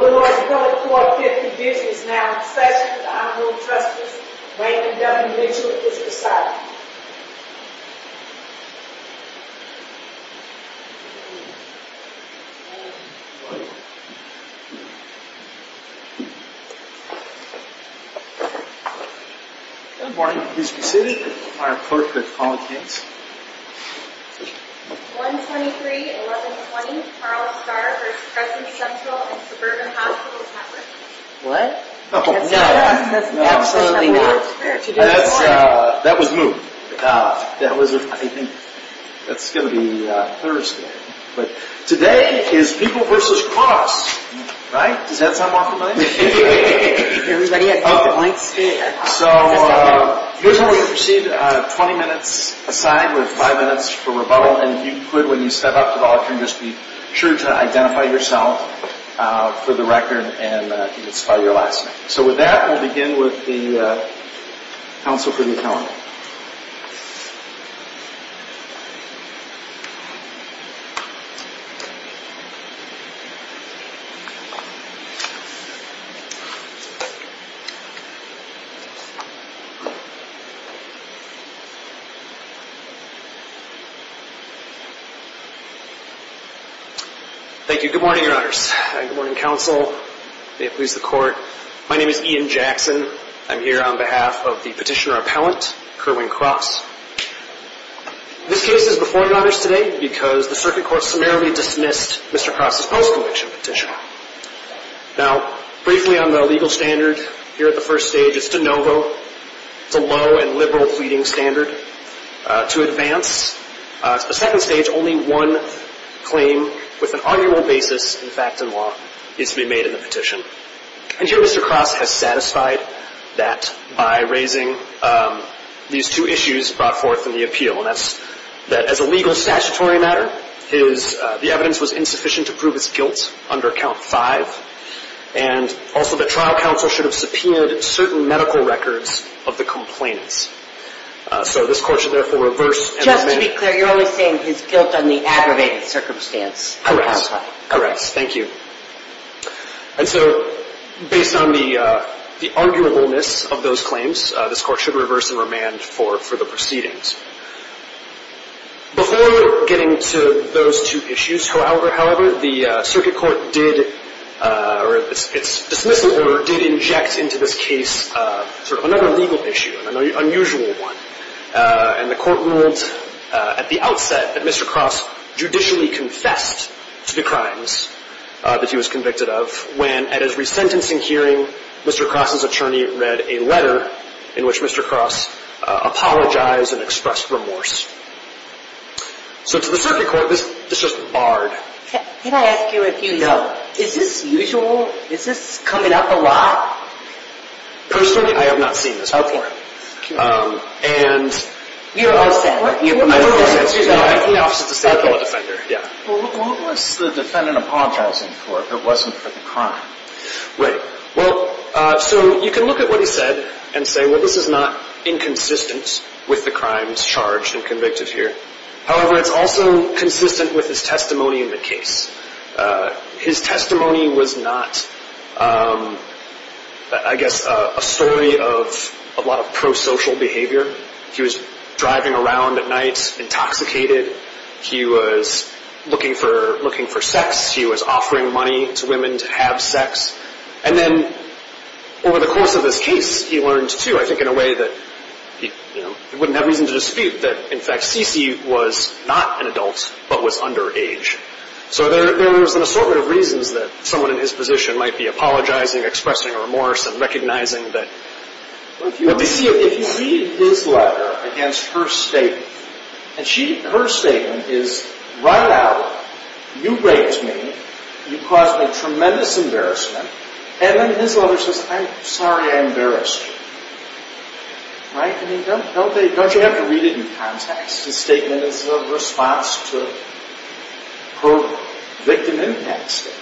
4.50 is now in session with the Honorable Trustees Wayne and W. Mitchell at this recital. Good morning. Please be seated. Our clerk will call the cadence. 1-23-11-20 Carl Starr vs. Crescent Central and Suburban Hospitals Network. We have five minutes for rebuttal and if you could when you step up to the altar and just be sure to identify yourself for the record and you can start your last name. So with that we'll begin with the Council for the Accountable. Thank you. Good morning, Your Honors. Good morning, Council. May it please the Court. My name is Ian Jackson. I'm here on behalf of the petitioner-appellant Kerwin Cross. This case is before Your Honors today because the Circuit Court summarily dismissed Mr. Cross' post-conviction petition. Now, briefly on the legal standard here at the first stage, it's de novo. It's a low and liberal pleading standard. To advance the second stage, only one claim with an arguable basis in fact and law is to be made in the petition. And here Mr. Cross has satisfied that by raising these two issues brought forth in the appeal. And that's that as a legal statutory matter, the evidence was insufficient to prove his guilt under Count 5. And also that trial counsel should have subpoenaed certain medical records of the complainants. So this Court should therefore reverse and remand. Just to be clear, you're only saying his guilt on the aggravated circumstance. Correct. Thank you. And so based on the arguableness of those claims, this Court should reverse and remand for the proceedings. Before getting to those two issues, however, the Circuit Court did or its dismissal order did inject into this case sort of another legal issue, an unusual one. And the Court ruled at the outset that Mr. Cross judicially confessed to the crimes that he was convicted of when at his resentencing hearing, Mr. Cross's attorney read a letter in which Mr. Cross apologized and expressed remorse. So to the Circuit Court, this just barred. Can I ask you a few questions? No. Is this usual? Is this coming up a lot? Personally, I have not seen this. Okay. And... You are all set. What was the defendant apologizing for if it wasn't for the crime? Right. Well, so you can look at what he said and say, well, this is not inconsistent with the crimes charged and convicted here. However, it's also consistent with his testimony in the case. His testimony was not, I guess, a story of a lot of pro-social behavior. He was driving around at night intoxicated. He was looking for sex. He was offering money to women to have sex. And then over the course of this case, he learned, too, I think in a way that he wouldn't have reason to dispute that, in fact, Cece was not an adult but was underage. So there was an assortment of reasons that someone in his position might be apologizing, expressing remorse, and recognizing that... Well, if you read his letter against her statement, and her statement is, right out, you raped me, you caused me tremendous embarrassment, and then his letter says, I'm sorry I embarrassed you. Right? I mean, don't you have to read it in context? His statement is a response to her victim impact statement.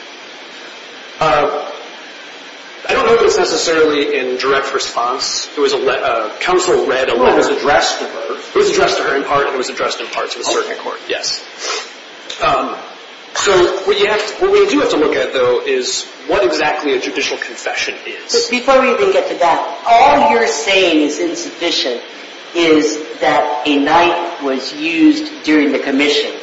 I don't know if it's necessarily in direct response. It was a letter. Counsel read a letter. It was addressed to her. It was addressed to her in part, and it was addressed in part to the circuit court. Yes. So what we do have to look at, though, is what exactly a judicial confession is. Before we even get to that, all you're saying is insufficient is that a knife was used during the commission,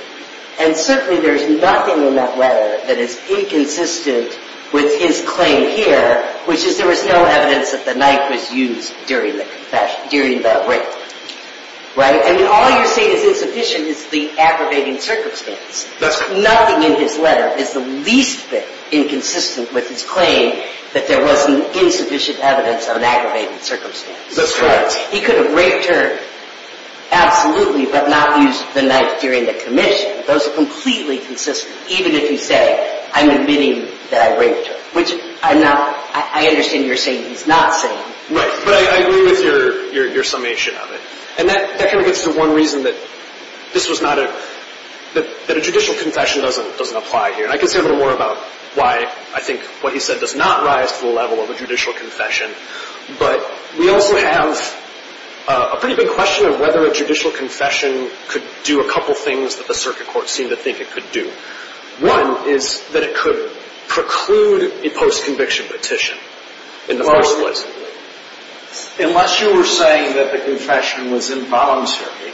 and certainly there's nothing in that letter that is inconsistent with his claim here, which is there was no evidence that the knife was used during that rape. Right? And all you're saying is insufficient is the aggravating circumstance. That's correct. Nothing in his letter is the least bit inconsistent with his claim that there was insufficient evidence of an aggravating circumstance. That's correct. He could have raped her absolutely but not used the knife during the commission. Those are completely consistent, even if you say, I'm admitting that I raped her, which I'm not. I understand you're saying he's not saying. Right. But I agree with your summation of it. And that kind of gets to one reason that this was not a – that a judicial confession doesn't apply here. And I can say a little more about why I think what he said does not rise to the level of a judicial confession, but we also have a pretty big question of whether a judicial confession could do a couple things that the circuit court seemed to think it could do. One is that it could preclude a post-conviction petition in the first place. Unless you were saying that the confession was involuntary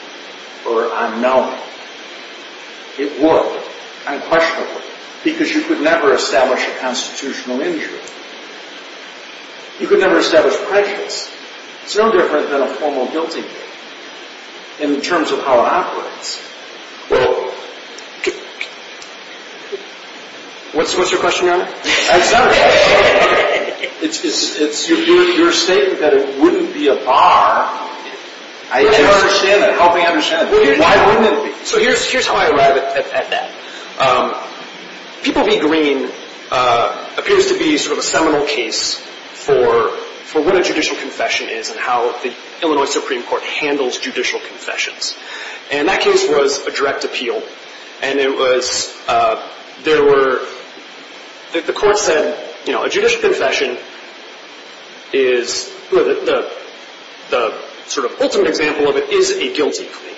or unknowing, it would, unquestionably, because you could never establish a constitutional injury. You could never establish prejudice. It's no different than a formal guilty plea in terms of how it operates. What's your question, Your Honor? It's not a question. It's your statement that it wouldn't be a bar. I understand that. Help me understand. Why wouldn't it be? So here's how I arrive at that. People Be Green appears to be sort of a seminal case for what a judicial confession is and how the Illinois Supreme Court handles judicial confessions. And that case was a direct appeal. And it was there were the court said, you know, a judicial confession is the sort of ultimate example of it is a guilty plea.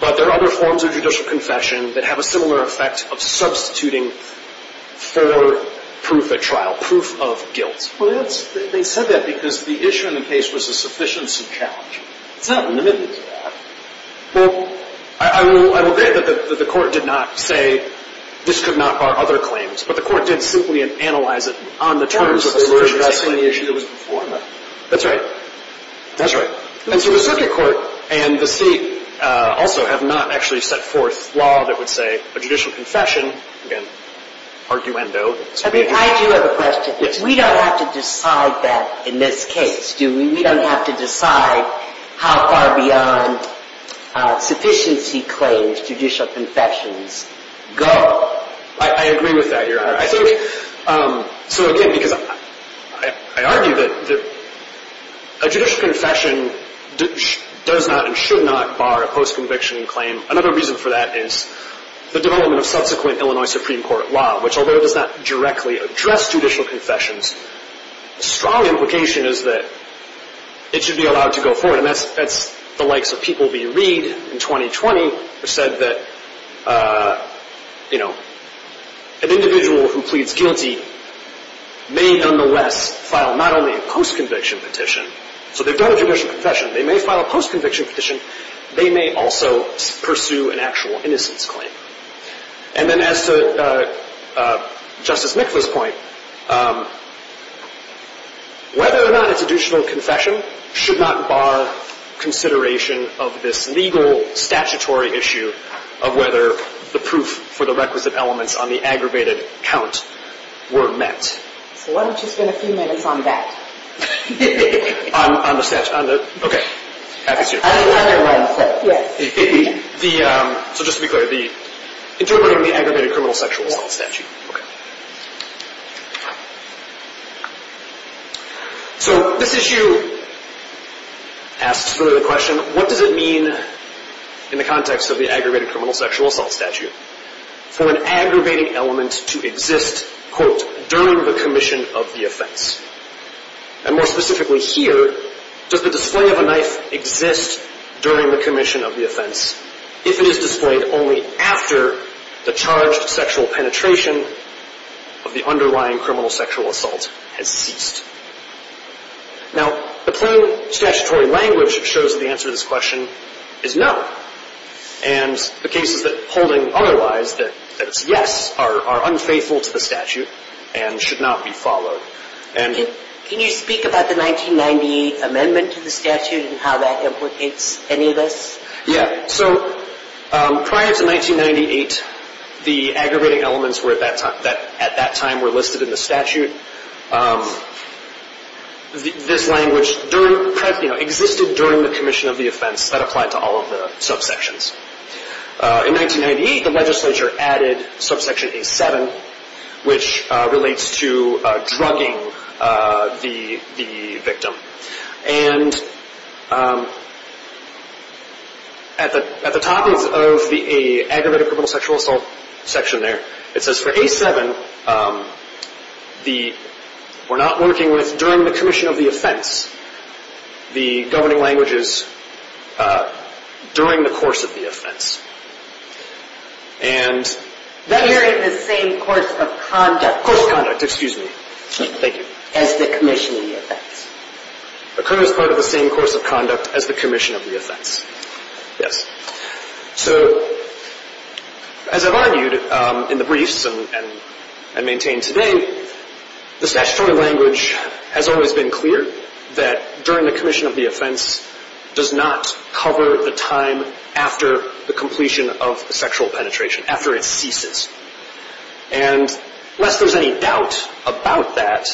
But there are other forms of judicial confession that have a similar effect of substituting for proof at trial, proof of guilt. Well, they said that because the issue in the case was a sufficiency challenge. It's not limited to that. Well, I will agree that the court did not say this could not bar other claims. But the court did simply analyze it on the terms of the situation. It was addressing the issue that was before. That's right. That's right. And so the circuit court and the state also have not actually set forth law that would say a judicial confession, again, arguendo. I do have a question. We don't have to decide that in this case, do we? We don't have to decide how far beyond sufficiency claims judicial confessions go. I agree with that, Your Honor. So, again, because I argue that a judicial confession does not and should not bar a post-conviction claim. Another reason for that is the development of subsequent Illinois Supreme Court law, which although it does not directly address judicial confessions, the strong implication is that it should be allowed to go forward. And that's the likes of P. B. Reid in 2020 who said that, you know, an individual who pleads guilty may nonetheless file not only a post-conviction petition. So they've done a judicial confession. They may file a post-conviction petition. They may also pursue an actual innocence claim. And then as to Justice Nicholas' point, whether or not it's a judicial confession should not bar consideration of this legal, statutory issue of whether the proof for the requisite elements on the aggravated count were met. So why don't you spend a few minutes on that? On the statute? Okay. On another one. Yes. So just to be clear, interpreting the aggravated criminal sexual assault statute. Yes. So this issue asks sort of the question, what does it mean in the context of the aggravated criminal sexual assault statute for an aggravating element to exist, quote, during the commission of the offense? And more specifically here, does the display of a knife exist during the commission of the offense if it is displayed only after the charged sexual penetration of the underlying criminal sexual assault has ceased? Now, the plain statutory language shows that the answer to this question is no. And the case is that holding otherwise, that it's yes, are unfaithful to the statute and should not be followed. Can you speak about the 1998 amendment to the statute and how that implicates any of this? Yeah. So prior to 1998, the aggravating elements at that time were listed in the statute. This language existed during the commission of the offense that applied to all of the subsections. In 1998, the legislature added subsection A-7, which relates to drugging the victim. And at the top of the aggravated criminal sexual assault section there, it says for A-7, the we're not working with during the commission of the offense, the governing languages during the course of the offense. And. During the same course of conduct. Course of conduct, excuse me. Thank you. As the commission of the offense. Occurs part of the same course of conduct as the commission of the offense. Yes. So as I've argued in the briefs and I maintain today, the statutory language has always been clear that during the commission of the offense does not cover the time after the completion of the sexual penetration, after it ceases. And lest there's any doubt about that,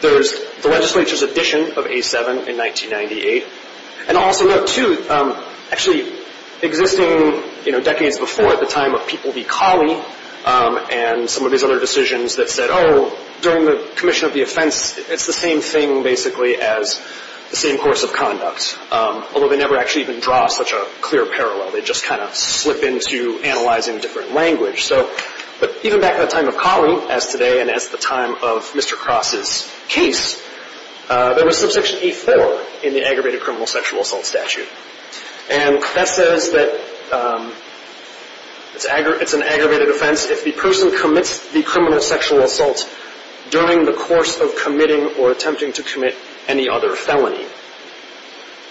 there's the legislature's addition of A-7 in 1998. And I'll also note, too, actually existing, you know, decades before at the time of People v. Cawley and some of these other decisions that said, oh, during the commission of the offense, it's the same thing basically as the same course of conduct. Although they never actually even draw such a clear parallel. They just kind of slip into analyzing different language. But even back in the time of Cawley as today and as the time of Mr. Cross's case, there was subsection A-4 in the aggravated criminal sexual assault statute. And that says that it's an aggravated offense if the person commits the criminal sexual assault during the course of committing or attempting to commit any other felony.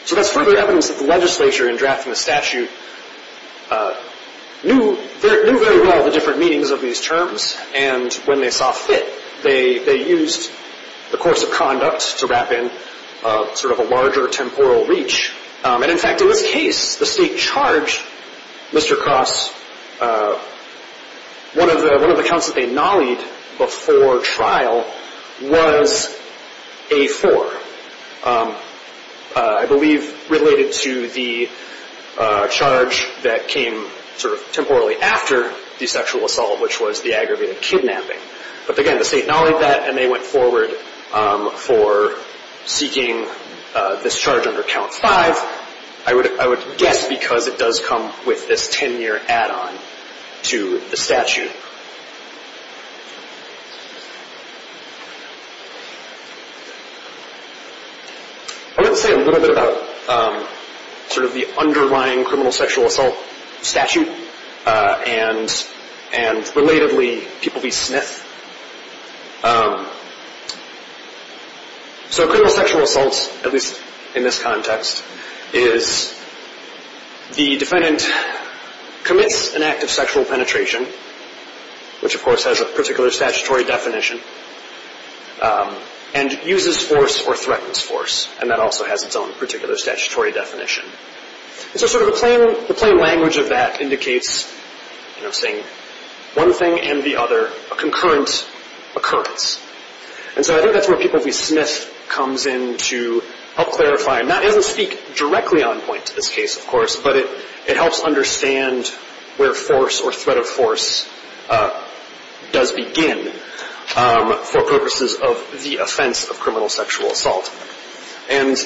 So that's further evidence that the legislature, in drafting the statute, knew very well the different meanings of these terms. And when they saw fit, they used the course of conduct to wrap in sort of a larger temporal reach. And, in fact, in this case, the state charge, Mr. Cross, one of the counts that they nollied before trial was A-4. I believe related to the charge that came sort of temporarily after the sexual assault, which was the aggravated kidnapping. But, again, the state nollied that, and they went forward for seeking this charge under Count 5. I would guess because it does come with this 10-year add-on to the statute. I want to say a little bit about sort of the underlying criminal sexual assault statute, and, relatively, people be SNF. So criminal sexual assault, at least in this context, is the defendant commits an act of sexual penetration, which, of course, has a particular statutory definition, and uses force or threatens force. And that also has its own particular statutory definition. And so sort of the plain language of that indicates, you know, saying one thing and the other, a concurrent occurrence. And so I think that's where people be SNF comes in to help clarify. And that doesn't speak directly on point to this case, of course, but it helps understand where force or threat of force does begin for purposes of the offense of criminal sexual assault. And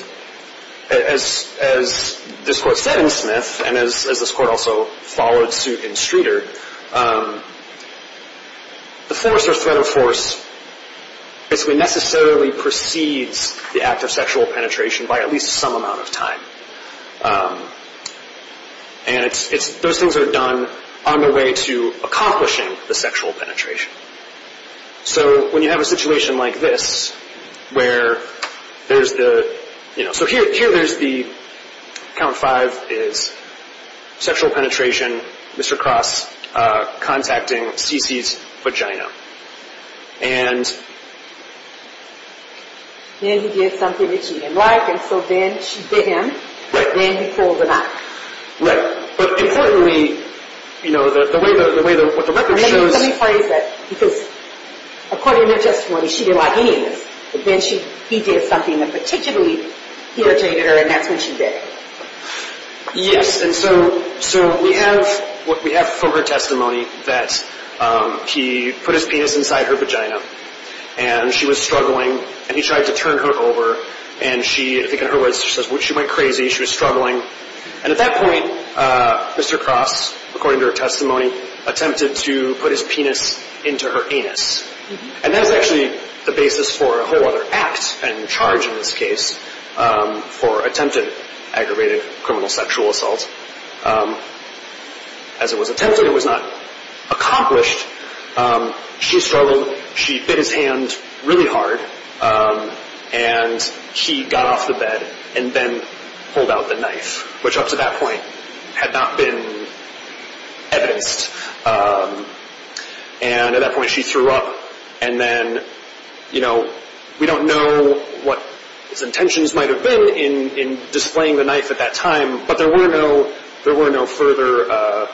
as this Court said in Smith, and as this Court also followed suit in Streeter, the force or threat of force basically necessarily precedes the act of sexual penetration by at least some amount of time. And those things are done on the way to accomplishing the sexual penetration. So when you have a situation like this, where there's the, you know, So here there's the count five is sexual penetration, Mr. Cross contacting Cece's vagina. And... Then he did something that she didn't like, and so then she bit him. Right. Then he pulled the knife. Right. But importantly, you know, the way the record shows... According to her testimony, she didn't like any of this. But then he did something that particularly irritated her, and that's when she bit him. Yes, and so we have from her testimony that he put his penis inside her vagina, and she was struggling, and he tried to turn her over, and she, I think in her words, she says she went crazy, she was struggling. And at that point, Mr. Cross, according to her testimony, attempted to put his penis into her anus. And that's actually the basis for a whole other act and charge in this case for attempted aggravated criminal sexual assault. As it was attempted, it was not accomplished. She struggled, she bit his hand really hard, and he got off the bed and then pulled out the knife, which up to that point had not been evidenced. And at that point she threw up, and then, you know, we don't know what his intentions might have been in displaying the knife at that time, but there were no further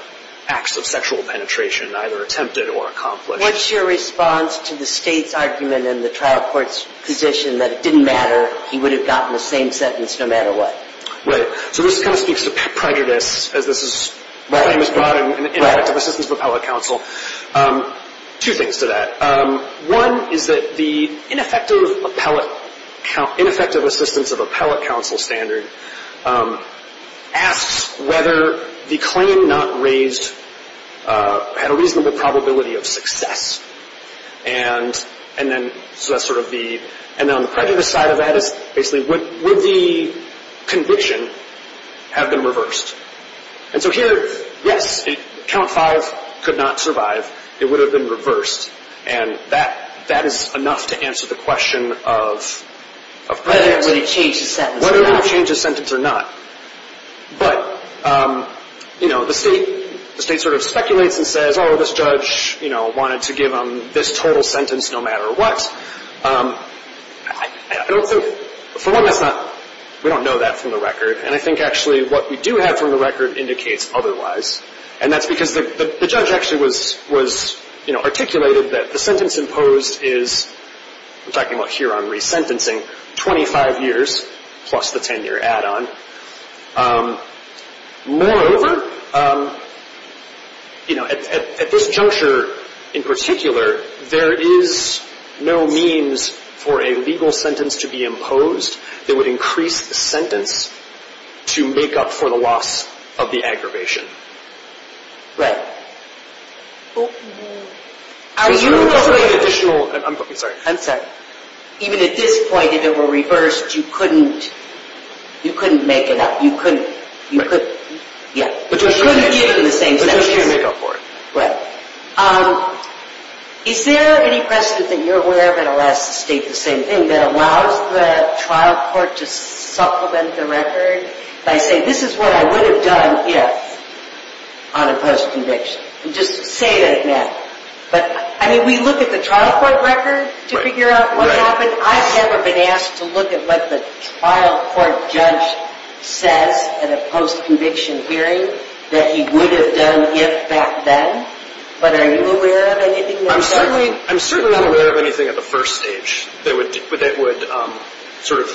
acts of sexual penetration, either attempted or accomplished. What's your response to the state's argument in the trial court's position that it didn't matter, he would have gotten the same sentence no matter what? Right, so this kind of speaks to prejudice, as this is brought in in the Ineffective Assistance of Appellate Counsel. Two things to that. One is that the Ineffective Assistance of Appellate Counsel standard asks whether the claim not raised had a reasonable probability of success. And then on the prejudice side of that is basically would the conviction have been reversed? And so here, yes, count five could not survive. It would have been reversed, and that is enough to answer the question of prejudice. Whether it would have changed the sentence or not. Whether it would have changed the sentence or not. But, you know, the state sort of speculates and says, oh, this judge, you know, wanted to give him this total sentence no matter what. I don't think, for one, that's not, we don't know that from the record, and I think actually what we do have from the record indicates otherwise, and that's because the judge actually was, you know, articulated that the sentence imposed is, I'm talking about here on resentencing, 25 years plus the 10-year add-on. Moreover, you know, at this juncture in particular, there is no means for a legal sentence to be imposed that would increase the sentence to make up for the loss of the aggravation. Right. Even at this point, if it were reversed, you couldn't, you couldn't make it up. You couldn't, you couldn't, yeah. But you couldn't give him the same sentence. But you couldn't make up for it. Right. Is there any precedent that you're aware of in Alaska State the same thing that allows the trial court to supplement the record by saying this is what I would have done if on a post-conviction? Just say that now. But, I mean, we look at the trial court record to figure out what happened. I've never been asked to look at what the trial court judge says at a post-conviction hearing that he would have done if back then. But are you aware of anything like that? I'm certainly, I'm certainly not aware of anything at the first stage that would, that would sort of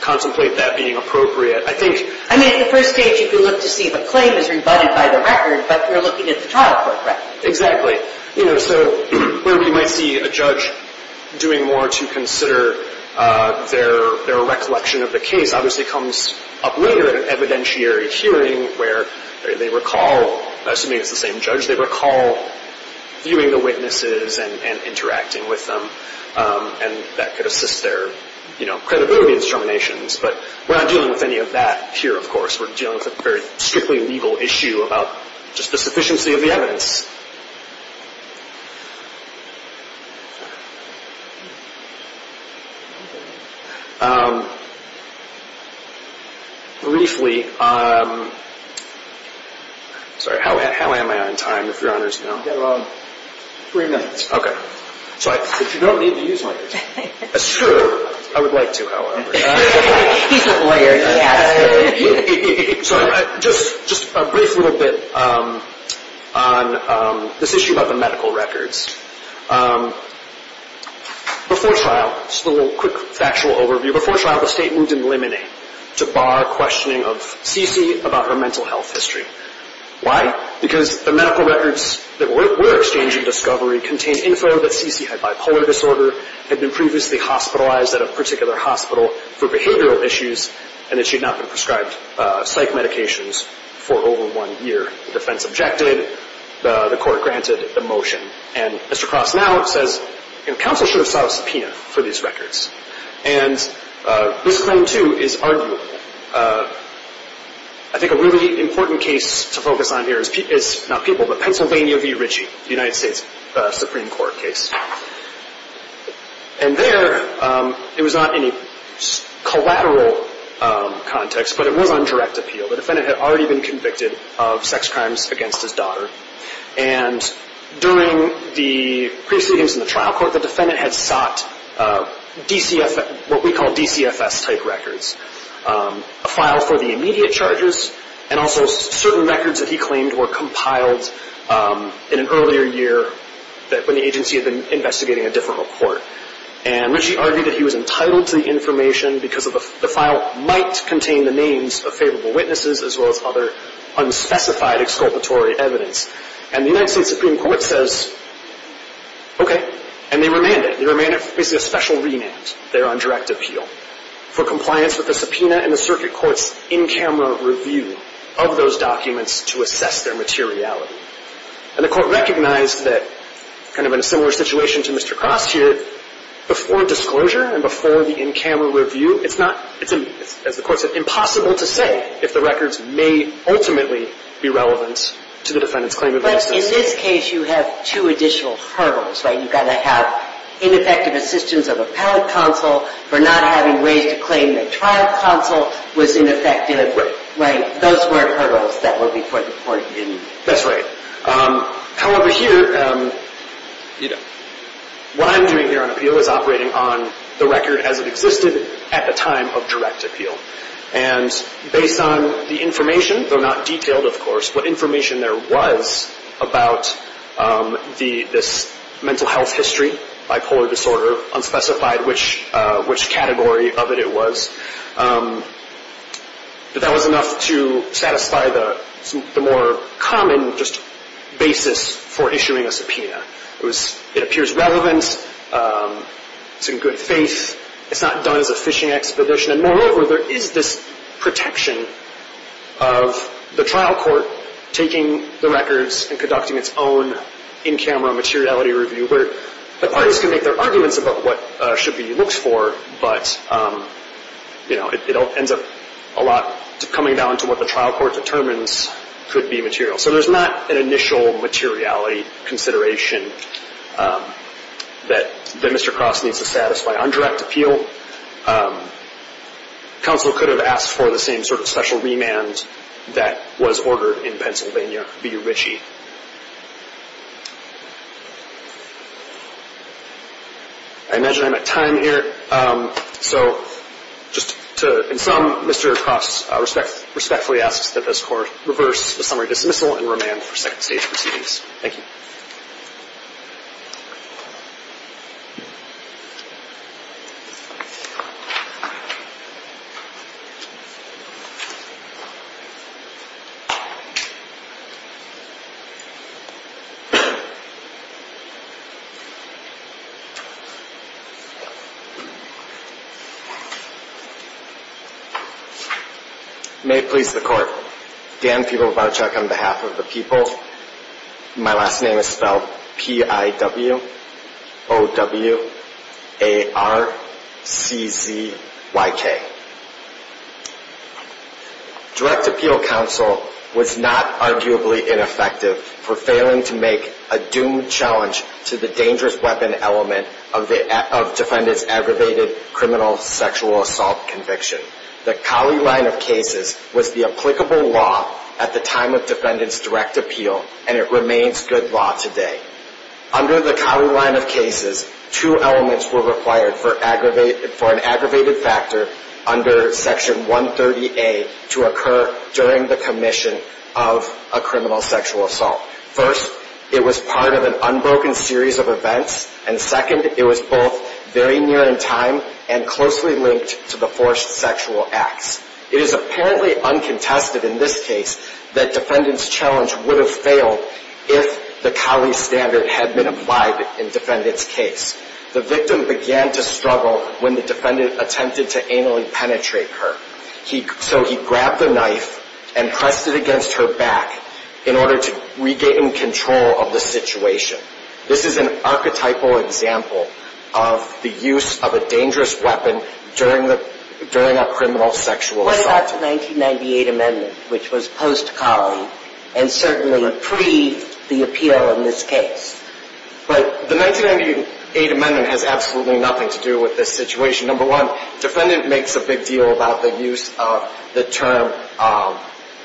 contemplate that being appropriate. I mean, at the first stage you can look to see if a claim is rebutted by the record, but you're looking at the trial court record. Exactly. You know, so where we might see a judge doing more to consider their recollection of the case obviously comes up later in an evidentiary hearing where they recall, assuming it's the same judge, they recall viewing the witnesses and interacting with them. And that could assist their, you know, credibility determinations. But we're not dealing with any of that here, of course. We're dealing with a very strictly legal issue about just the sufficiency of the evidence. Briefly, sorry, how am I on time, if Your Honors know? You've got about three minutes. Okay. But you don't need to use microphones. That's true. I would like to, however. He's a lawyer. Sorry. Just a brief little bit on this issue about the medical records. Before trial, just a little quick factual overview. Before trial the State moved in limine to bar questioning of CeCe about her mental health history. Why? Because the medical records that we're exchanging discovery contain info that CeCe had bipolar disorder, had been previously hospitalized at a particular hospital for behavioral issues, and that she had not been prescribed psych medications for over one year. The defense objected. The court granted the motion. And Mr. Cross now says, you know, counsel should have sought a subpoena for these records. And this claim, too, is arguable. I think a really important case to focus on here is not people, but Pennsylvania v. Ritchie, the United States Supreme Court case. And there it was not in a collateral context, but it was on direct appeal. The defendant had already been convicted of sex crimes against his daughter. And during the proceedings in the trial court, the defendant had sought what we call DCFS-type records, a file for the immediate charges and also certain records that he claimed were compiled in an earlier year when the agency had been investigating a different report. And Ritchie argued that he was entitled to the information because the file might contain the names of favorable witnesses as well as other unspecified exculpatory evidence. And the United States Supreme Court says, okay. And they remanded. They were basically a special remand there on direct appeal for compliance with the subpoena and the circuit court's in-camera review of those documents to assess their materiality. And the court recognized that kind of in a similar situation to Mr. Cross here, before disclosure and before the in-camera review, it's not, as the court said, impossible to say if the records may ultimately be relevant to the defendant's claim of innocence. But in this case, you have two additional hurdles, right? You've got to have ineffective assistance of appellate counsel for not having ways to claim that trial counsel was ineffective. Right. Those were hurdles that were before the court didn't. That's right. However, here, what I'm doing here on appeal is operating on the record as it existed at the time of direct appeal. And based on the information, though not detailed, of course, what information there was about this mental health history, bipolar disorder, unspecified, which category of it it was, that that was enough to satisfy the more common just basis for issuing a subpoena. It appears relevant. It's in good faith. It's not done as a fishing expedition. And moreover, there is this protection of the trial court taking the records and conducting its own in-camera materiality review, where the parties can make their arguments about what should be looked for, but, you know, it ends up a lot coming down to what the trial court determines could be material. So there's not an initial materiality consideration that Mr. Cross needs to satisfy on direct appeal. Counsel could have asked for the same sort of special remand that was ordered in Pennsylvania v. Ritchie. I imagine I'm at time here. So just to sum, Mr. Cross respectfully asks that this Court reverse the summary dismissal and remand for second stage proceedings. Thank you. May it please the Court. Dan Fuglovichuk on behalf of the people. My last name is spelled P-I-W-O-W-A-R-C-Z-Y-K. Direct appeal counsel was not arguably ineffective for failing to make a doomed challenge to the dangerous weapon element of defendant's aggravated criminal sexual assault conviction. The Colley line of cases was the applicable law at the time of defendant's direct appeal, and it remains good law today. Under the Colley line of cases, two elements were required for an aggravated factor under Section 130A to occur during the commission of a criminal sexual assault. First, it was part of an unbroken series of events, and second, it was both very near in time and closely linked to the forced sexual acts. It is apparently uncontested in this case that defendant's challenge would have failed if the Colley standard had been applied in defendant's case. The victim began to struggle when the defendant attempted to anally penetrate her. So he grabbed the knife and pressed it against her back in order to regain control of the situation. This is an archetypal example of the use of a dangerous weapon during a criminal sexual assault. What about the 1998 amendment, which was post-Colley and certainly pre-the appeal in this case? The 1998 amendment has absolutely nothing to do with this situation. Number one, defendant makes a big deal about the use of the term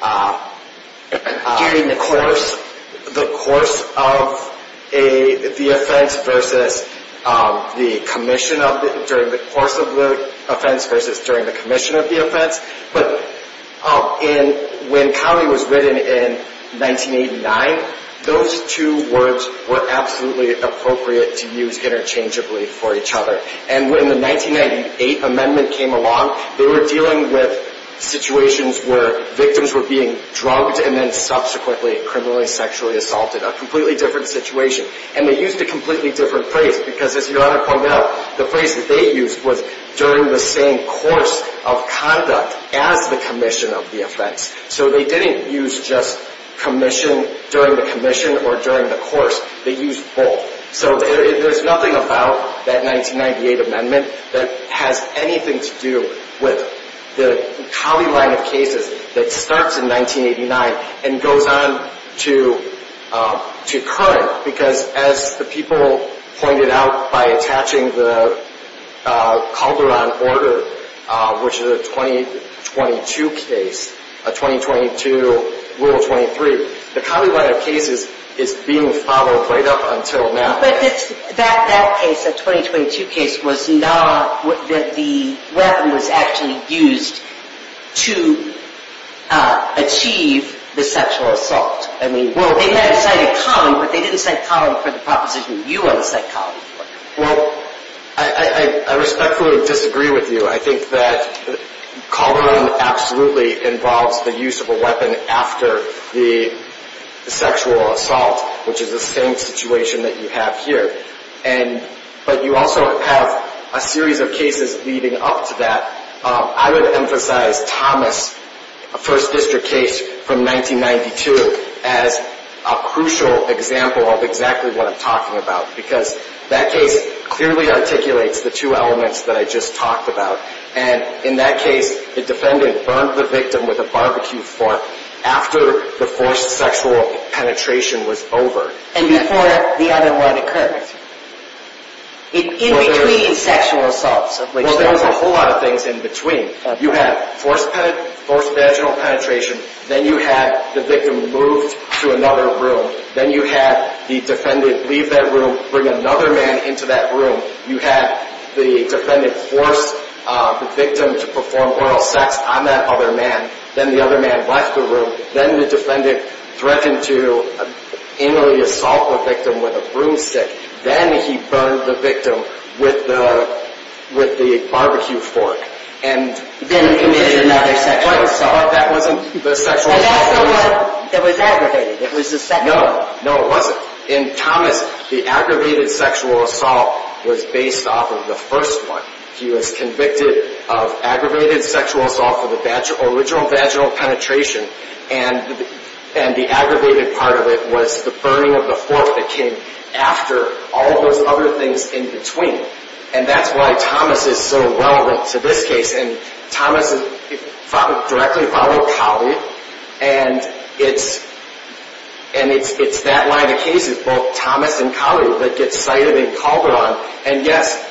during the course of the offense versus during the commission of the offense. But when Colley was written in 1989, those two words were absolutely appropriate to use interchangeably for each other. And when the 1998 amendment came along, they were dealing with situations where victims were being drugged and then subsequently criminally sexually assaulted, a completely different situation. And they used a completely different phrase because, as Your Honor pointed out, the phrase that they used was during the same course of conduct as the commission of the offense. So they didn't use just commission during the commission or during the course. They used both. So there's nothing about that 1998 amendment that has anything to do with the Colley line of cases that starts in 1989 and goes on to current. But that case, the 2022 case, was not that the weapon was actually used to achieve the sexual assault. I mean, well, they might have cited Colley, but they didn't cite Colley for the proposition you want to cite Colley for. Well, I respectfully disagree with you. I think that Colley absolutely involves the use of a weapon after the sexual assault, which is the same situation that you have here. And but you also have a series of cases leading up to that. I would emphasize Thomas, a First District case from 1992, as a crucial example of exactly what I'm talking about, because that case clearly articulates the two elements that I just talked about. And in that case, the defendant burned the victim with a barbecue fork after the forced sexual penetration was over. And before the other one occurred. In between sexual assaults. There's a whole lot of things in between. You have forced forced vaginal penetration. Then you have the victim moved to another room. Then you have the defendant leave that room, bring another man into that room. You have the defendant forced the victim to perform oral sex on that other man. Then the other man left the room. Then the defendant threatened to assault the victim with a broomstick. Then he burned the victim with the barbecue fork. Then committed another sexual assault. That wasn't the sexual assault. That was aggravated. No, it wasn't. In Thomas, the aggravated sexual assault was based off of the first one. He was convicted of aggravated sexual assault for the original vaginal penetration. And the aggravated part of it was the burning of the fork that came after all of those other things in between. And that's why Thomas is so relevant to this case. And Thomas directly followed Colley. And it's that line of cases, both Thomas and Colley, that gets cited in Calderon. And yes,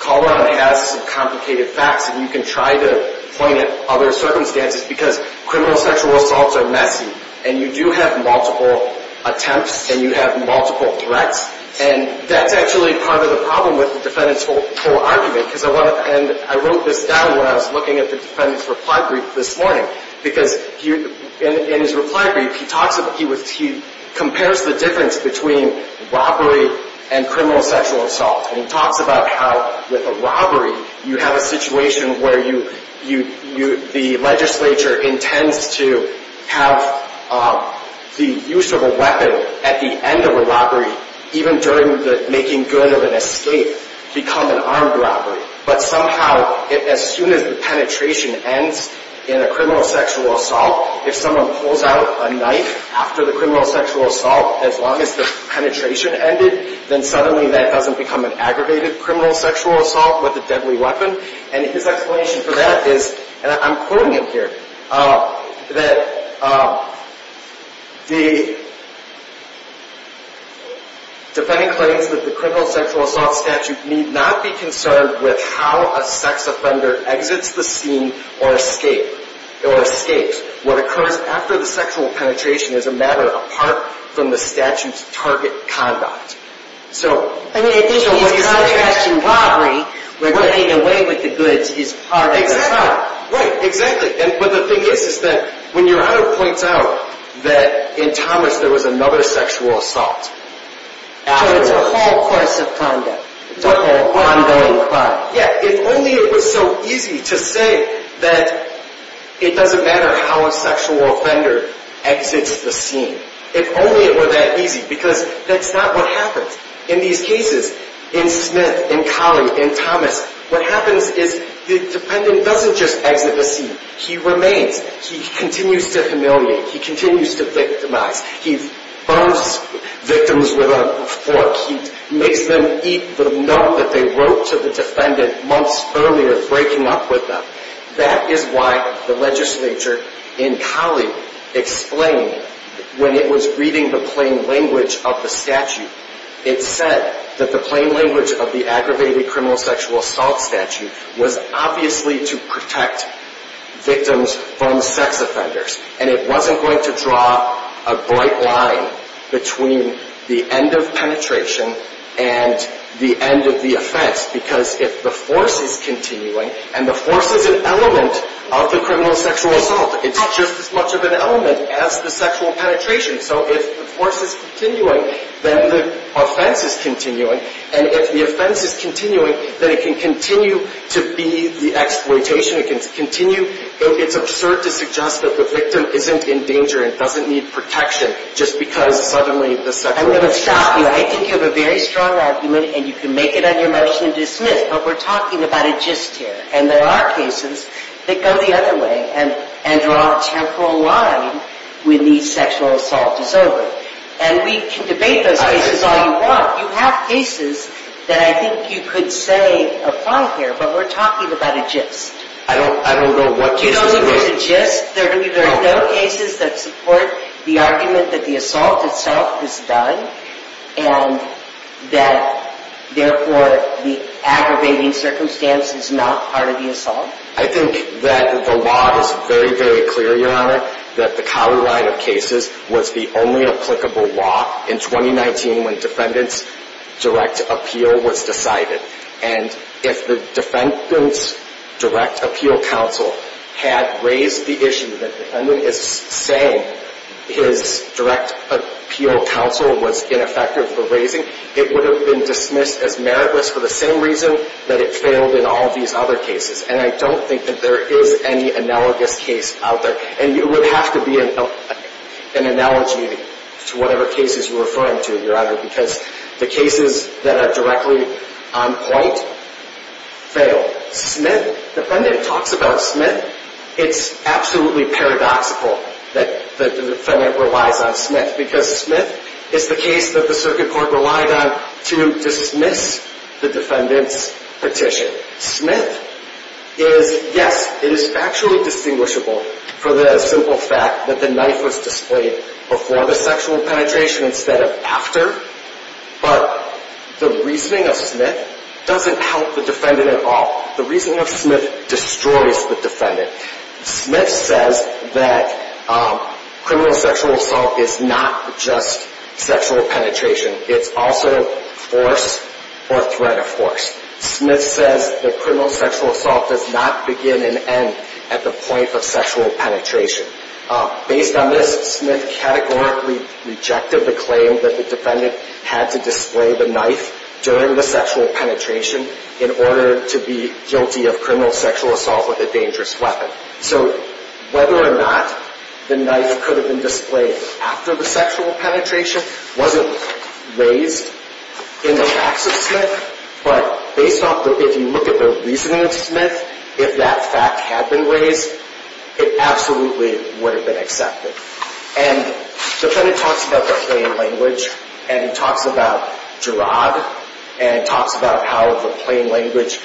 Calderon has some complicated facts. And you can try to point at other circumstances because criminal sexual assaults are messy. And you do have multiple attempts and you have multiple threats. And that's actually part of the problem with the defendant's whole argument. And I wrote this down when I was looking at the defendant's reply brief this morning. Because in his reply brief, he compares the difference between robbery and criminal sexual assault. And he talks about how with a robbery, you have a situation where the legislature intends to have the use of a weapon at the end of a robbery, even during the making good of an escape, become an armed robbery. But somehow, as soon as the penetration ends in a criminal sexual assault, if someone pulls out a knife after the criminal sexual assault, as long as the penetration ended, then suddenly that doesn't become an aggravated criminal sexual assault with a deadly weapon. And his explanation for that is, and I'm quoting him here, that the defendant claims that the criminal sexual assault statute need not be concerned with how a sex offender exits the scene or escapes. What occurs after the sexual penetration is a matter apart from the statute's target conduct. I mean, I think he's contrasting robbery where getting away with the goods is part of the crime. Right, exactly. But the thing is that when your honor points out that in Thomas there was another sexual assault. So it's a whole course of conduct. It's a whole ongoing crime. Yeah, if only it was so easy to say that it doesn't matter how a sexual offender exits the scene. If only it were that easy, because that's not what happens. In these cases, in Smith, in Colley, in Thomas, what happens is the defendant doesn't just exit the scene. He remains. He continues to humiliate. He continues to victimize. He bums victims with a fork. He makes them eat the milk that they wrote to the defendant months earlier, breaking up with them. That is why the legislature in Colley explained when it was reading the plain language of the statute, it said that the plain language of the aggravated criminal sexual assault statute was obviously to protect victims from sex offenders. And it wasn't going to draw a bright line between the end of penetration and the end of the offense. Because if the force is continuing, and the force is an element of the criminal sexual assault, it's just as much of an element as the sexual penetration. So if the force is continuing, then the offense is continuing. And if the offense is continuing, then it can continue to be the exploitation. It can continue. It's absurd to suggest that the victim isn't in danger and doesn't need protection just because suddenly the sexual assault is over. I'm going to stop you. I think you have a very strong argument, and you can make it on your motion to dismiss. But we're talking about a gist here. And there are cases that go the other way and draw a temporal line when the sexual assault is over. And we can debate those cases all you want. You have cases that I think you could say apply here, but we're talking about a gist. I don't know what gist. You don't know what a gist? There are no cases that support the argument that the assault itself is done and that, therefore, the aggravating circumstance is not part of the assault? I think that the law is very, very clear, Your Honor, that the Cowie line of cases was the only applicable law in 2019 when defendant's direct appeal was decided. And if the defendant's direct appeal counsel had raised the issue that the defendant is saying his direct appeal counsel was ineffective for raising, it would have been dismissed as meritless for the same reason that it failed in all of these other cases. And I don't think that there is any analogous case out there. And it would have to be an analogy to whatever cases you're referring to, Your Honor, because the cases that are directly on point fail. Smith, the defendant talks about Smith. It's absolutely paradoxical that the defendant relies on Smith because Smith is the case that the circuit court relied on to dismiss the defendant's petition. Smith is, yes, it is factually distinguishable for the simple fact that the knife was displayed before the sexual penetration instead of after. But the reasoning of Smith doesn't help the defendant at all. The reasoning of Smith destroys the defendant. Smith says that criminal sexual assault is not just sexual penetration. It's also force or threat of force. Smith says that criminal sexual assault does not begin and end at the point of sexual penetration. Based on this, Smith categorically rejected the claim that the defendant had to display the knife during the sexual penetration in order to be guilty of criminal sexual assault with a dangerous weapon. So whether or not the knife could have been displayed after the sexual penetration wasn't raised in the facts of Smith. But based on if you look at the reasoning of Smith, if that fact had been raised, it absolutely would have been accepted. And the defendant talks about the plain language. And he talks about Gerard. And he talks about how the plain language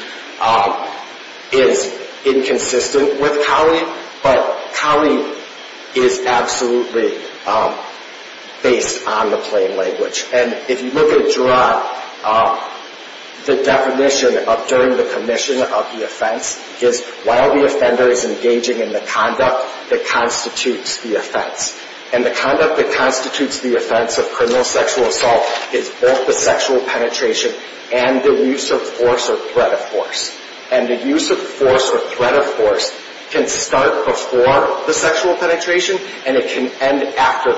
is inconsistent with Cowley. But Cowley is absolutely based on the plain language. And if you look at Gerard, the definition of during the commission of the offense is while the offender is engaging in the conduct that constitutes the offense. And the conduct that constitutes the offense of criminal sexual assault is both the sexual penetration and the use of force or threat of force. And the use of force or threat of force can start before the sexual penetration and it can end after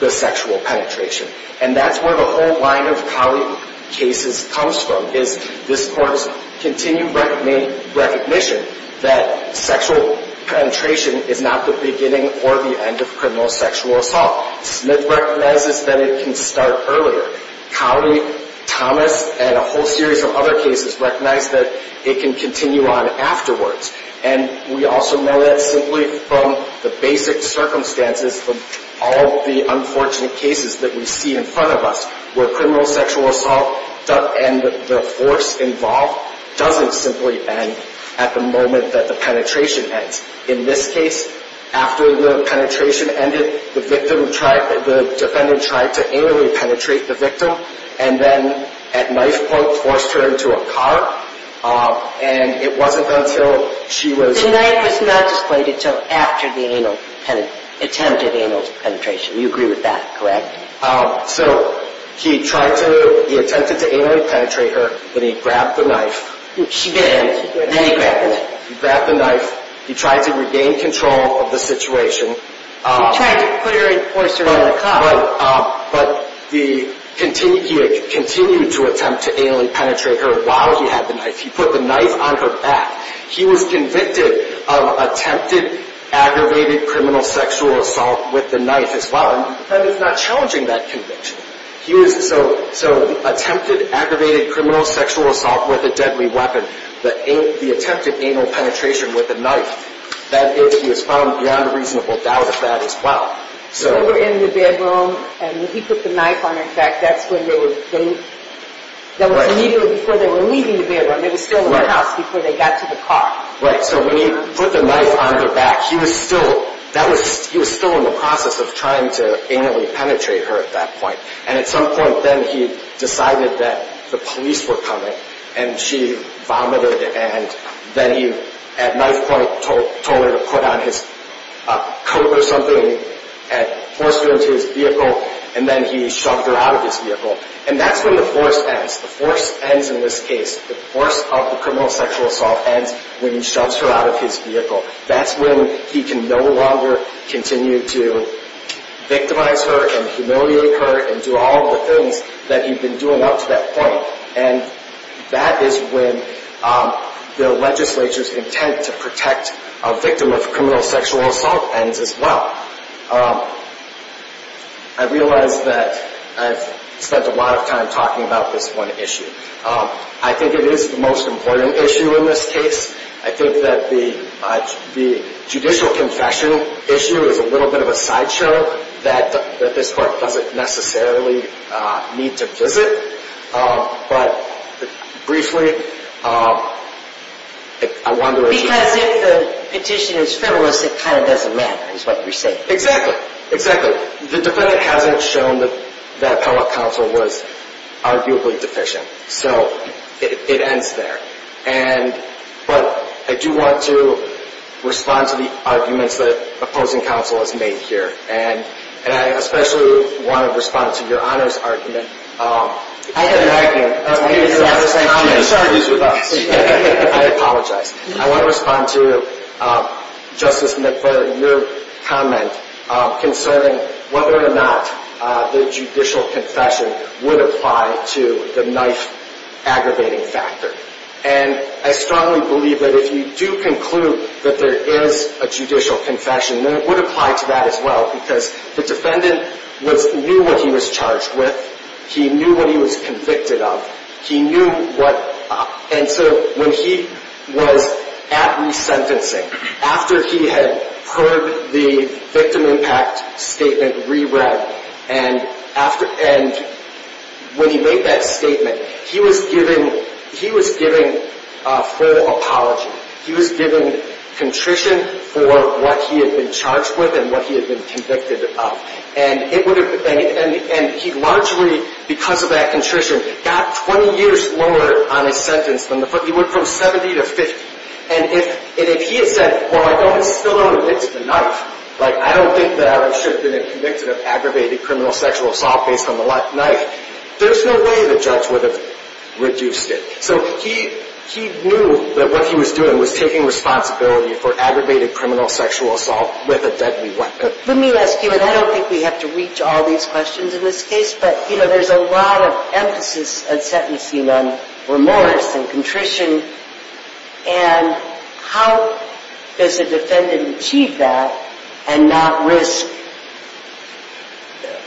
the sexual penetration. And that's where the whole line of Cowley cases comes from is this court's continued recognition that sexual penetration is not the beginning or the end of criminal sexual assault. Smith recognizes that it can start earlier. Cowley, Thomas, and a whole series of other cases recognize that it can continue on afterwards. And we also know that simply from the basic circumstances of all the unfortunate cases that we see in front of us where criminal sexual assault and the force involved doesn't simply end at the moment that the penetration ends. In this case, after the penetration ended, the defendant tried to anally penetrate the victim and then at knife point forced her into a car. And it wasn't until she was... The knife was not displayed until after the attempted anal penetration. You agree with that, correct? So he attempted to anally penetrate her. Then he grabbed the knife. She bit him. Then he grabbed the knife. He grabbed the knife. He tried to regain control of the situation. He tried to force her into the car. But he continued to attempt to anally penetrate her while he had the knife. He put the knife on her back. He was convicted of attempted aggravated criminal sexual assault with the knife as well. The defendant's not challenging that conviction. So attempted aggravated criminal sexual assault with a deadly weapon. The attempted anal penetration with a knife. That is, he was found beyond a reasonable doubt of that as well. They were in the bedroom and when he put the knife on her back, that's when they were... That was immediately before they were leaving the bedroom. They were still in the house before they got to the car. Right. So when he put the knife on her back, he was still in the process of trying to anally penetrate her at that point. And at some point then he decided that the police were coming and she vomited. And then he, at knife point, told her to put on his coat or something and forced her into his vehicle. And then he shoved her out of his vehicle. And that's when the force ends. The force ends in this case. The force of the criminal sexual assault ends when he shoves her out of his vehicle. That's when he can no longer continue to victimize her and humiliate her and do all the things that he'd been doing up to that point. And that is when the legislature's intent to protect a victim of criminal sexual assault ends as well. I realize that I've spent a lot of time talking about this one issue. I think it is the most important issue in this case. I think that the judicial confession issue is a little bit of a sideshow that this court doesn't necessarily need to visit. But briefly, I wonder if it's – Because if the petition is frivolous, it kind of doesn't matter is what you're saying. Exactly. Exactly. The defendant hasn't shown that the appellate counsel was arguably deficient. So it ends there. But I do want to respond to the arguments that opposing counsel has made here. And I especially want to respond to Your Honor's argument. I have an argument. I apologize. I want to respond to Justice McFarland, your comment concerning whether or not the judicial confession would apply to the knife-aggravating factor. And I strongly believe that if you do conclude that there is a judicial confession, then it would apply to that as well. Because the defendant knew what he was charged with. He knew what he was convicted of. He knew what – and so when he was at resentencing, after he had heard the victim impact statement re-read, and when he made that statement, he was given a full apology. He was given contrition for what he had been charged with and what he had been convicted of. And he largely, because of that contrition, got 20 years longer on his sentence than the – he went from 70 to 50. And if he had said, well, I don't still owe it to the knife, like, I don't think that I should have been convicted of aggravated criminal sexual assault based on the knife, there's no way the judge would have reduced it. So he knew that what he was doing was taking responsibility for aggravated criminal sexual assault with a deadly weapon. Let me ask you, and I don't think we have to reach all these questions in this case, but, you know, there's a lot of emphasis at sentencing on remorse and contrition. And how does a defendant achieve that and not risk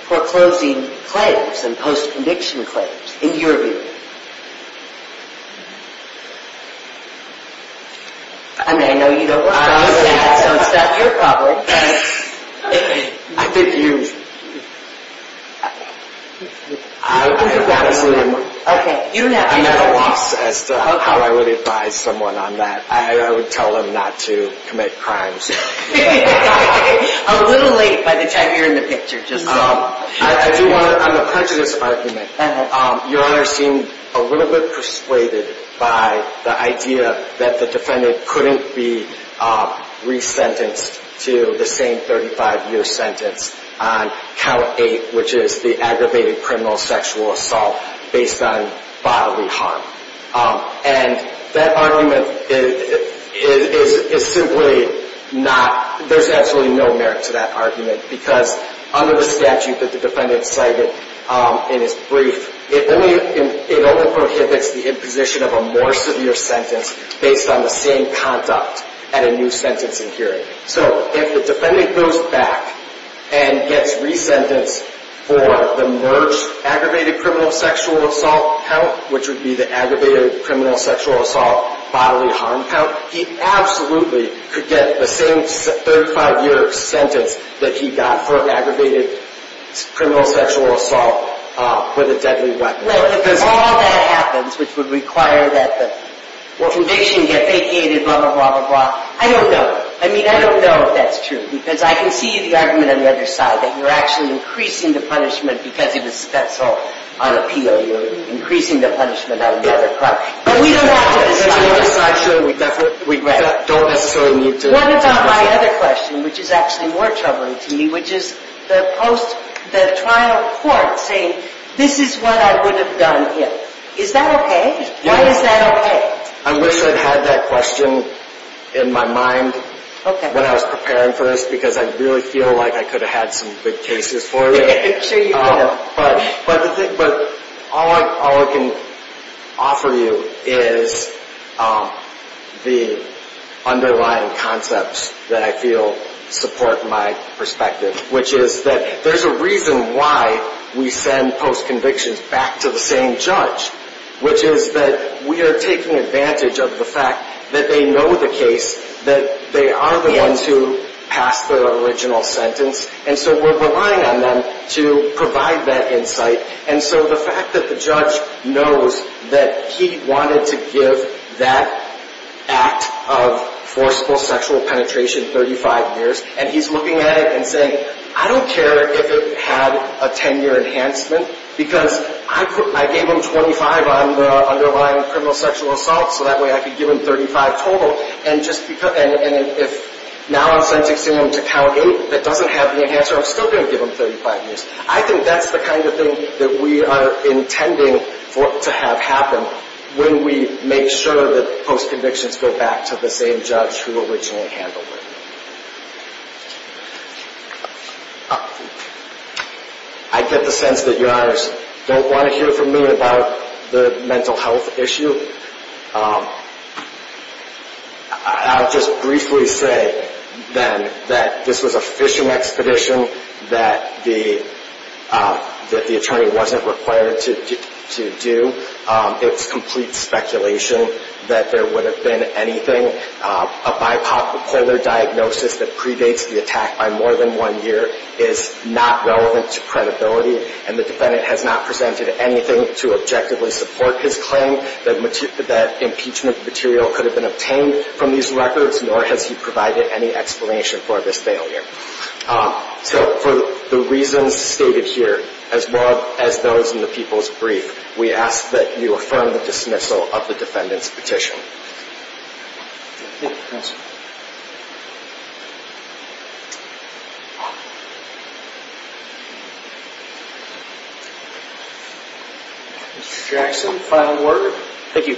foreclosing claims and post-conviction claims, in your view? I mean, I know you don't – Don't stop your colleague. I think you – I'm at a loss as to how I would advise someone on that. I would tell them not to commit crimes. A little late by the time you're in the picture. I do want to – on the prejudice argument, Your Honor seemed a little bit persuaded by the idea that the defendant couldn't be resentenced to the same 35-year sentence on Count 8, which is the aggravated criminal sexual assault based on bodily harm. And that argument is simply not – there's absolutely no merit to that argument, because under the statute that the defendant cited in his brief, it only prohibits the imposition of a more severe sentence based on the same conduct at a new sentencing hearing. So if the defendant goes back and gets resentenced for the merged aggravated criminal sexual assault count, which would be the aggravated criminal sexual assault bodily harm count, he absolutely could get the same 35-year sentence that he got for an aggravated criminal sexual assault with a deadly weapon. Well, if all that happens, which would require that the conviction get vacated, blah, blah, blah, blah, I don't know. I mean, I don't know if that's true, because I can see the argument on the other side, that you're actually increasing the punishment because it was special on appeal. You're increasing the punishment on the other – But we don't have to decide that. We don't necessarily need to. What about my other question, which is actually more troubling to me, which is the trial court saying, this is what I would have done if. Is that okay? Why is that okay? I wish I'd had that question in my mind when I was preparing for this, because I really feel like I could have had some good cases for you. I'm sure you would have. But all I can offer you is the underlying concepts that I feel support my perspective, which is that there's a reason why we send post-convictions back to the same judge, which is that we are taking advantage of the fact that they know the case, that they are the ones who passed the original sentence, and so we're relying on them to provide that insight. And so the fact that the judge knows that he wanted to give that act of forceful sexual penetration 35 years, and he's looking at it and saying, I don't care if it had a 10-year enhancement, because I gave him 25 on the underlying criminal sexual assault, so that way I could give him 35 total. And if now I'm sentencing him to count eight that doesn't have the enhancement, I'm still going to give him 35 years. I think that's the kind of thing that we are intending to have happen when we make sure that post-convictions go back to the same judge who originally handled it. I get the sense that Your Honors don't want to hear from me about the mental health issue. I'll just briefly say then that this was a fishing expedition that the attorney wasn't required to do. It's complete speculation that there would have been anything. A bipolar diagnosis that predates the attack by more than one year is not relevant to credibility, and the defendant has not presented anything to objectively support his claim that impeachment material could have been obtained from these records, nor has he provided any explanation for this failure. So for the reasons stated here, as well as those in the people's brief, we ask that you affirm the dismissal of the defendant's petition. Mr. Jackson, final word? Thank you.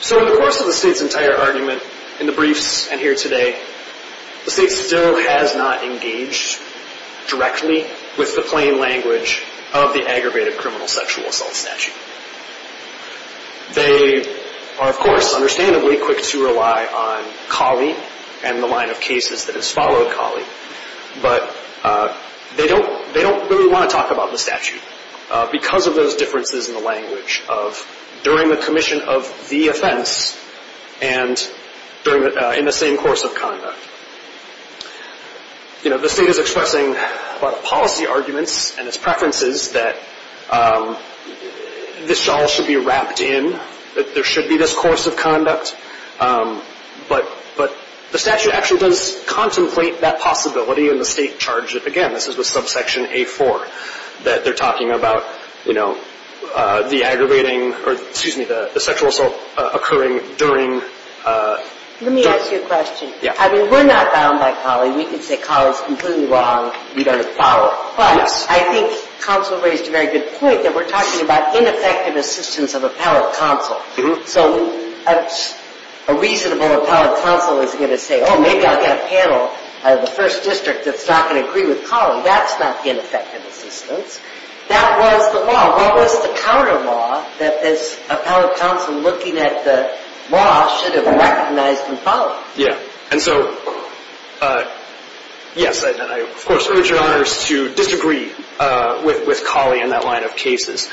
So in the course of the State's entire argument, in the briefs and here today, the State still has not engaged directly with the plain language of the aggravated criminal sexual assault statute. They are, of course, understandably quick to rely on CALI and the line of cases that has followed CALI, but they don't really want to talk about the statute because of those differences in the language of during the commission of the offense and in the same course of conduct. The State is expressing a lot of policy arguments and its preferences that this shawl should be wrapped in, that there should be this course of conduct, but the statute actually does contemplate that possibility, and the State charged it again. This is with subsection A4, that they're talking about, you know, the aggravating or, excuse me, the sexual assault occurring during. Let me ask you a question. Yeah. I mean, we're not bound by CALI. We can say CALI is completely wrong. We don't follow. But I think counsel raised a very good point that we're talking about ineffective assistance of appellate counsel. So a reasonable appellate counsel isn't going to say, oh, maybe I'll get a panel out of the first district that's not going to agree with CALI. That's not ineffective assistance. That was the law. What was the counter law that this appellate counsel looking at the law should have recognized and followed? Yeah. And so, yes, and I, of course, urge your honors to disagree with CALI and that line of cases.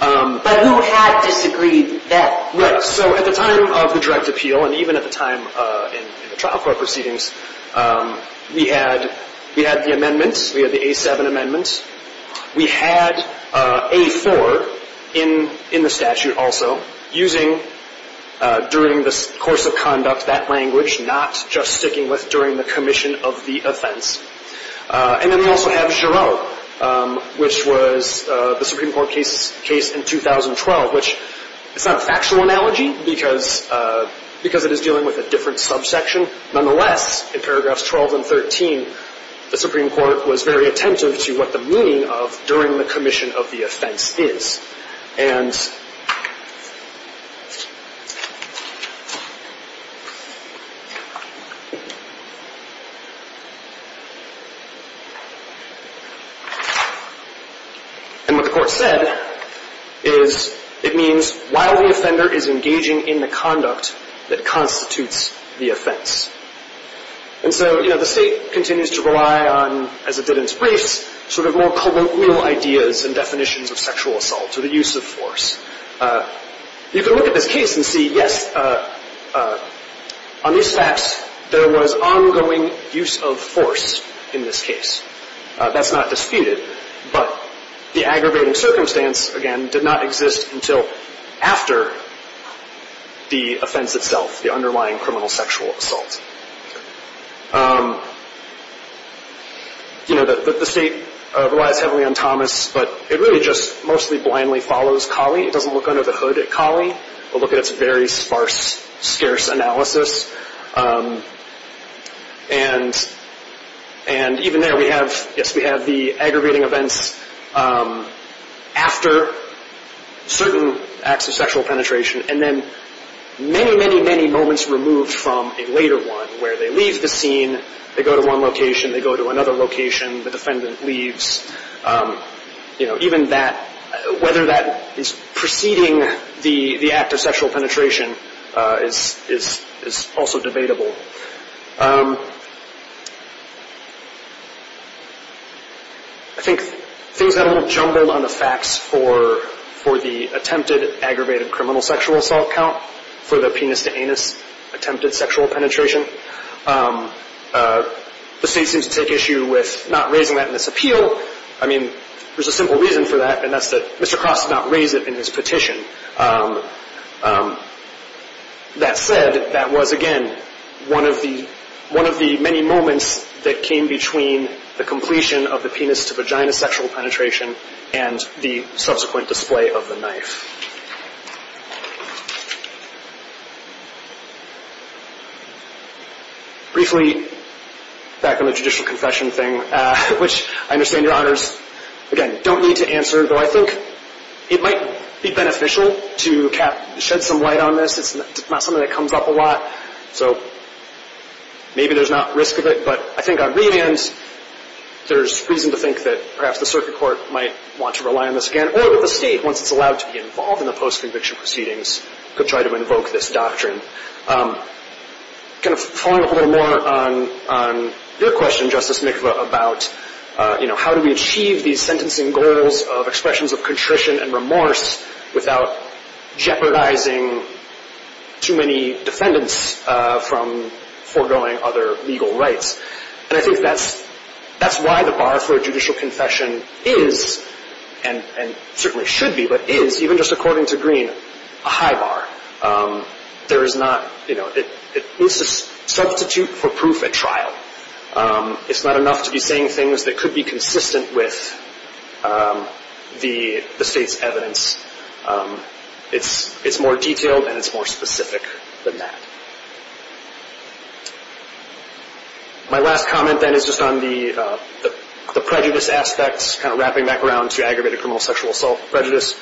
But who had disagreed then? Right. So at the time of the direct appeal and even at the time in the trial court proceedings, we had the amendments. We had the A7 amendments. We had A4 in the statute also, using during the course of conduct that language, not just sticking with during the commission of the offense. And then we also have Giraud, which was the Supreme Court case in 2012, which is not a factual analogy because it is dealing with a different subsection. Nonetheless, in paragraphs 12 and 13, the Supreme Court was very attentive to what the meaning of during the commission of the offense is. And what the court said is it means while the offender is engaging in the conduct that constitutes the offense. And so the state continues to rely on, as it did in its briefs, sort of more colloquial ideas and definitions of sexual assault or the use of force. You can look at this case and see, yes, on these facts, there was ongoing use of force in this case. That's not disputed. But the aggravating circumstance, again, did not exist until after the offense itself, the underlying criminal sexual assault. You know, the state relies heavily on Thomas, but it really just mostly blindly follows Cawley. It doesn't look under the hood at Cawley, but look at its very sparse, scarce analysis. And even there we have, yes, we have the aggravating events after certain acts of sexual penetration, and then many, many, many moments removed from a later one where they leave the scene, they go to one location, they go to another location, the defendant leaves. You know, even that, whether that is preceding the act of sexual penetration is also debatable. I think things got a little jumbled on the facts for the attempted aggravated criminal sexual assault count, for the penis-to-anus attempted sexual penetration. The state seems to take issue with not raising that in this appeal. I mean, there's a simple reason for that, and that's that Mr. Cross did not raise it in his petition. That said, that was, again, one of the many moments that came between the completion of the penis-to-vagina sexual penetration and the subsequent display of the knife. Briefly, back on the judicial confession thing, which I understand Your Honors, again, don't need to answer, though I think it might be beneficial to shed some light on this. It's not something that comes up a lot, so maybe there's not risk of it. But I think on remands, there's reason to think that perhaps the circuit court might want to rely on this again, or that the state, once it's allowed to be involved in the post-conviction proceedings, could try to invoke this doctrine. Kind of following up a little more on your question, Justice Mikva, about how do we achieve these sentencing goals of expressions of contrition and remorse without jeopardizing too many defendants from foregoing other legal rights? And I think that's why the bar for a judicial confession is, and certainly should be, but is, even just according to Green, a high bar. There is not, you know, it's a substitute for proof at trial. It's not enough to be saying things that could be consistent with the state's evidence. It's more detailed and it's more specific than that. My last comment, then, is just on the prejudice aspects, kind of wrapping back around to aggravated criminal sexual assault prejudice.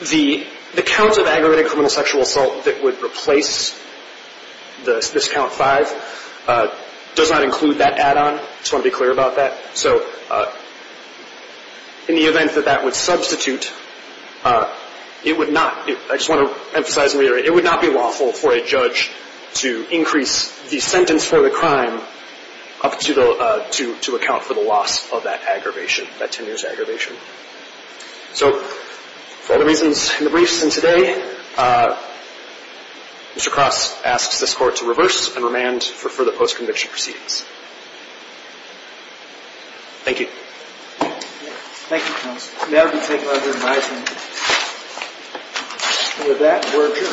The count of aggravated criminal sexual assault that would replace this count five does not include that add-on. I just want to be clear about that. So in the event that that would substitute, it would not, I just want to emphasize and reiterate, it would not be lawful for a judge to increase the sentence for the crime up to account for the loss of that aggravation, that 10 years of aggravation. So for all the reasons in the briefs and today, Mr. Cross asks this Court to reverse and remand for further post-conviction proceedings. Thank you. Thank you, counsel. May I be taken under advisement? And with that, we're adjourned.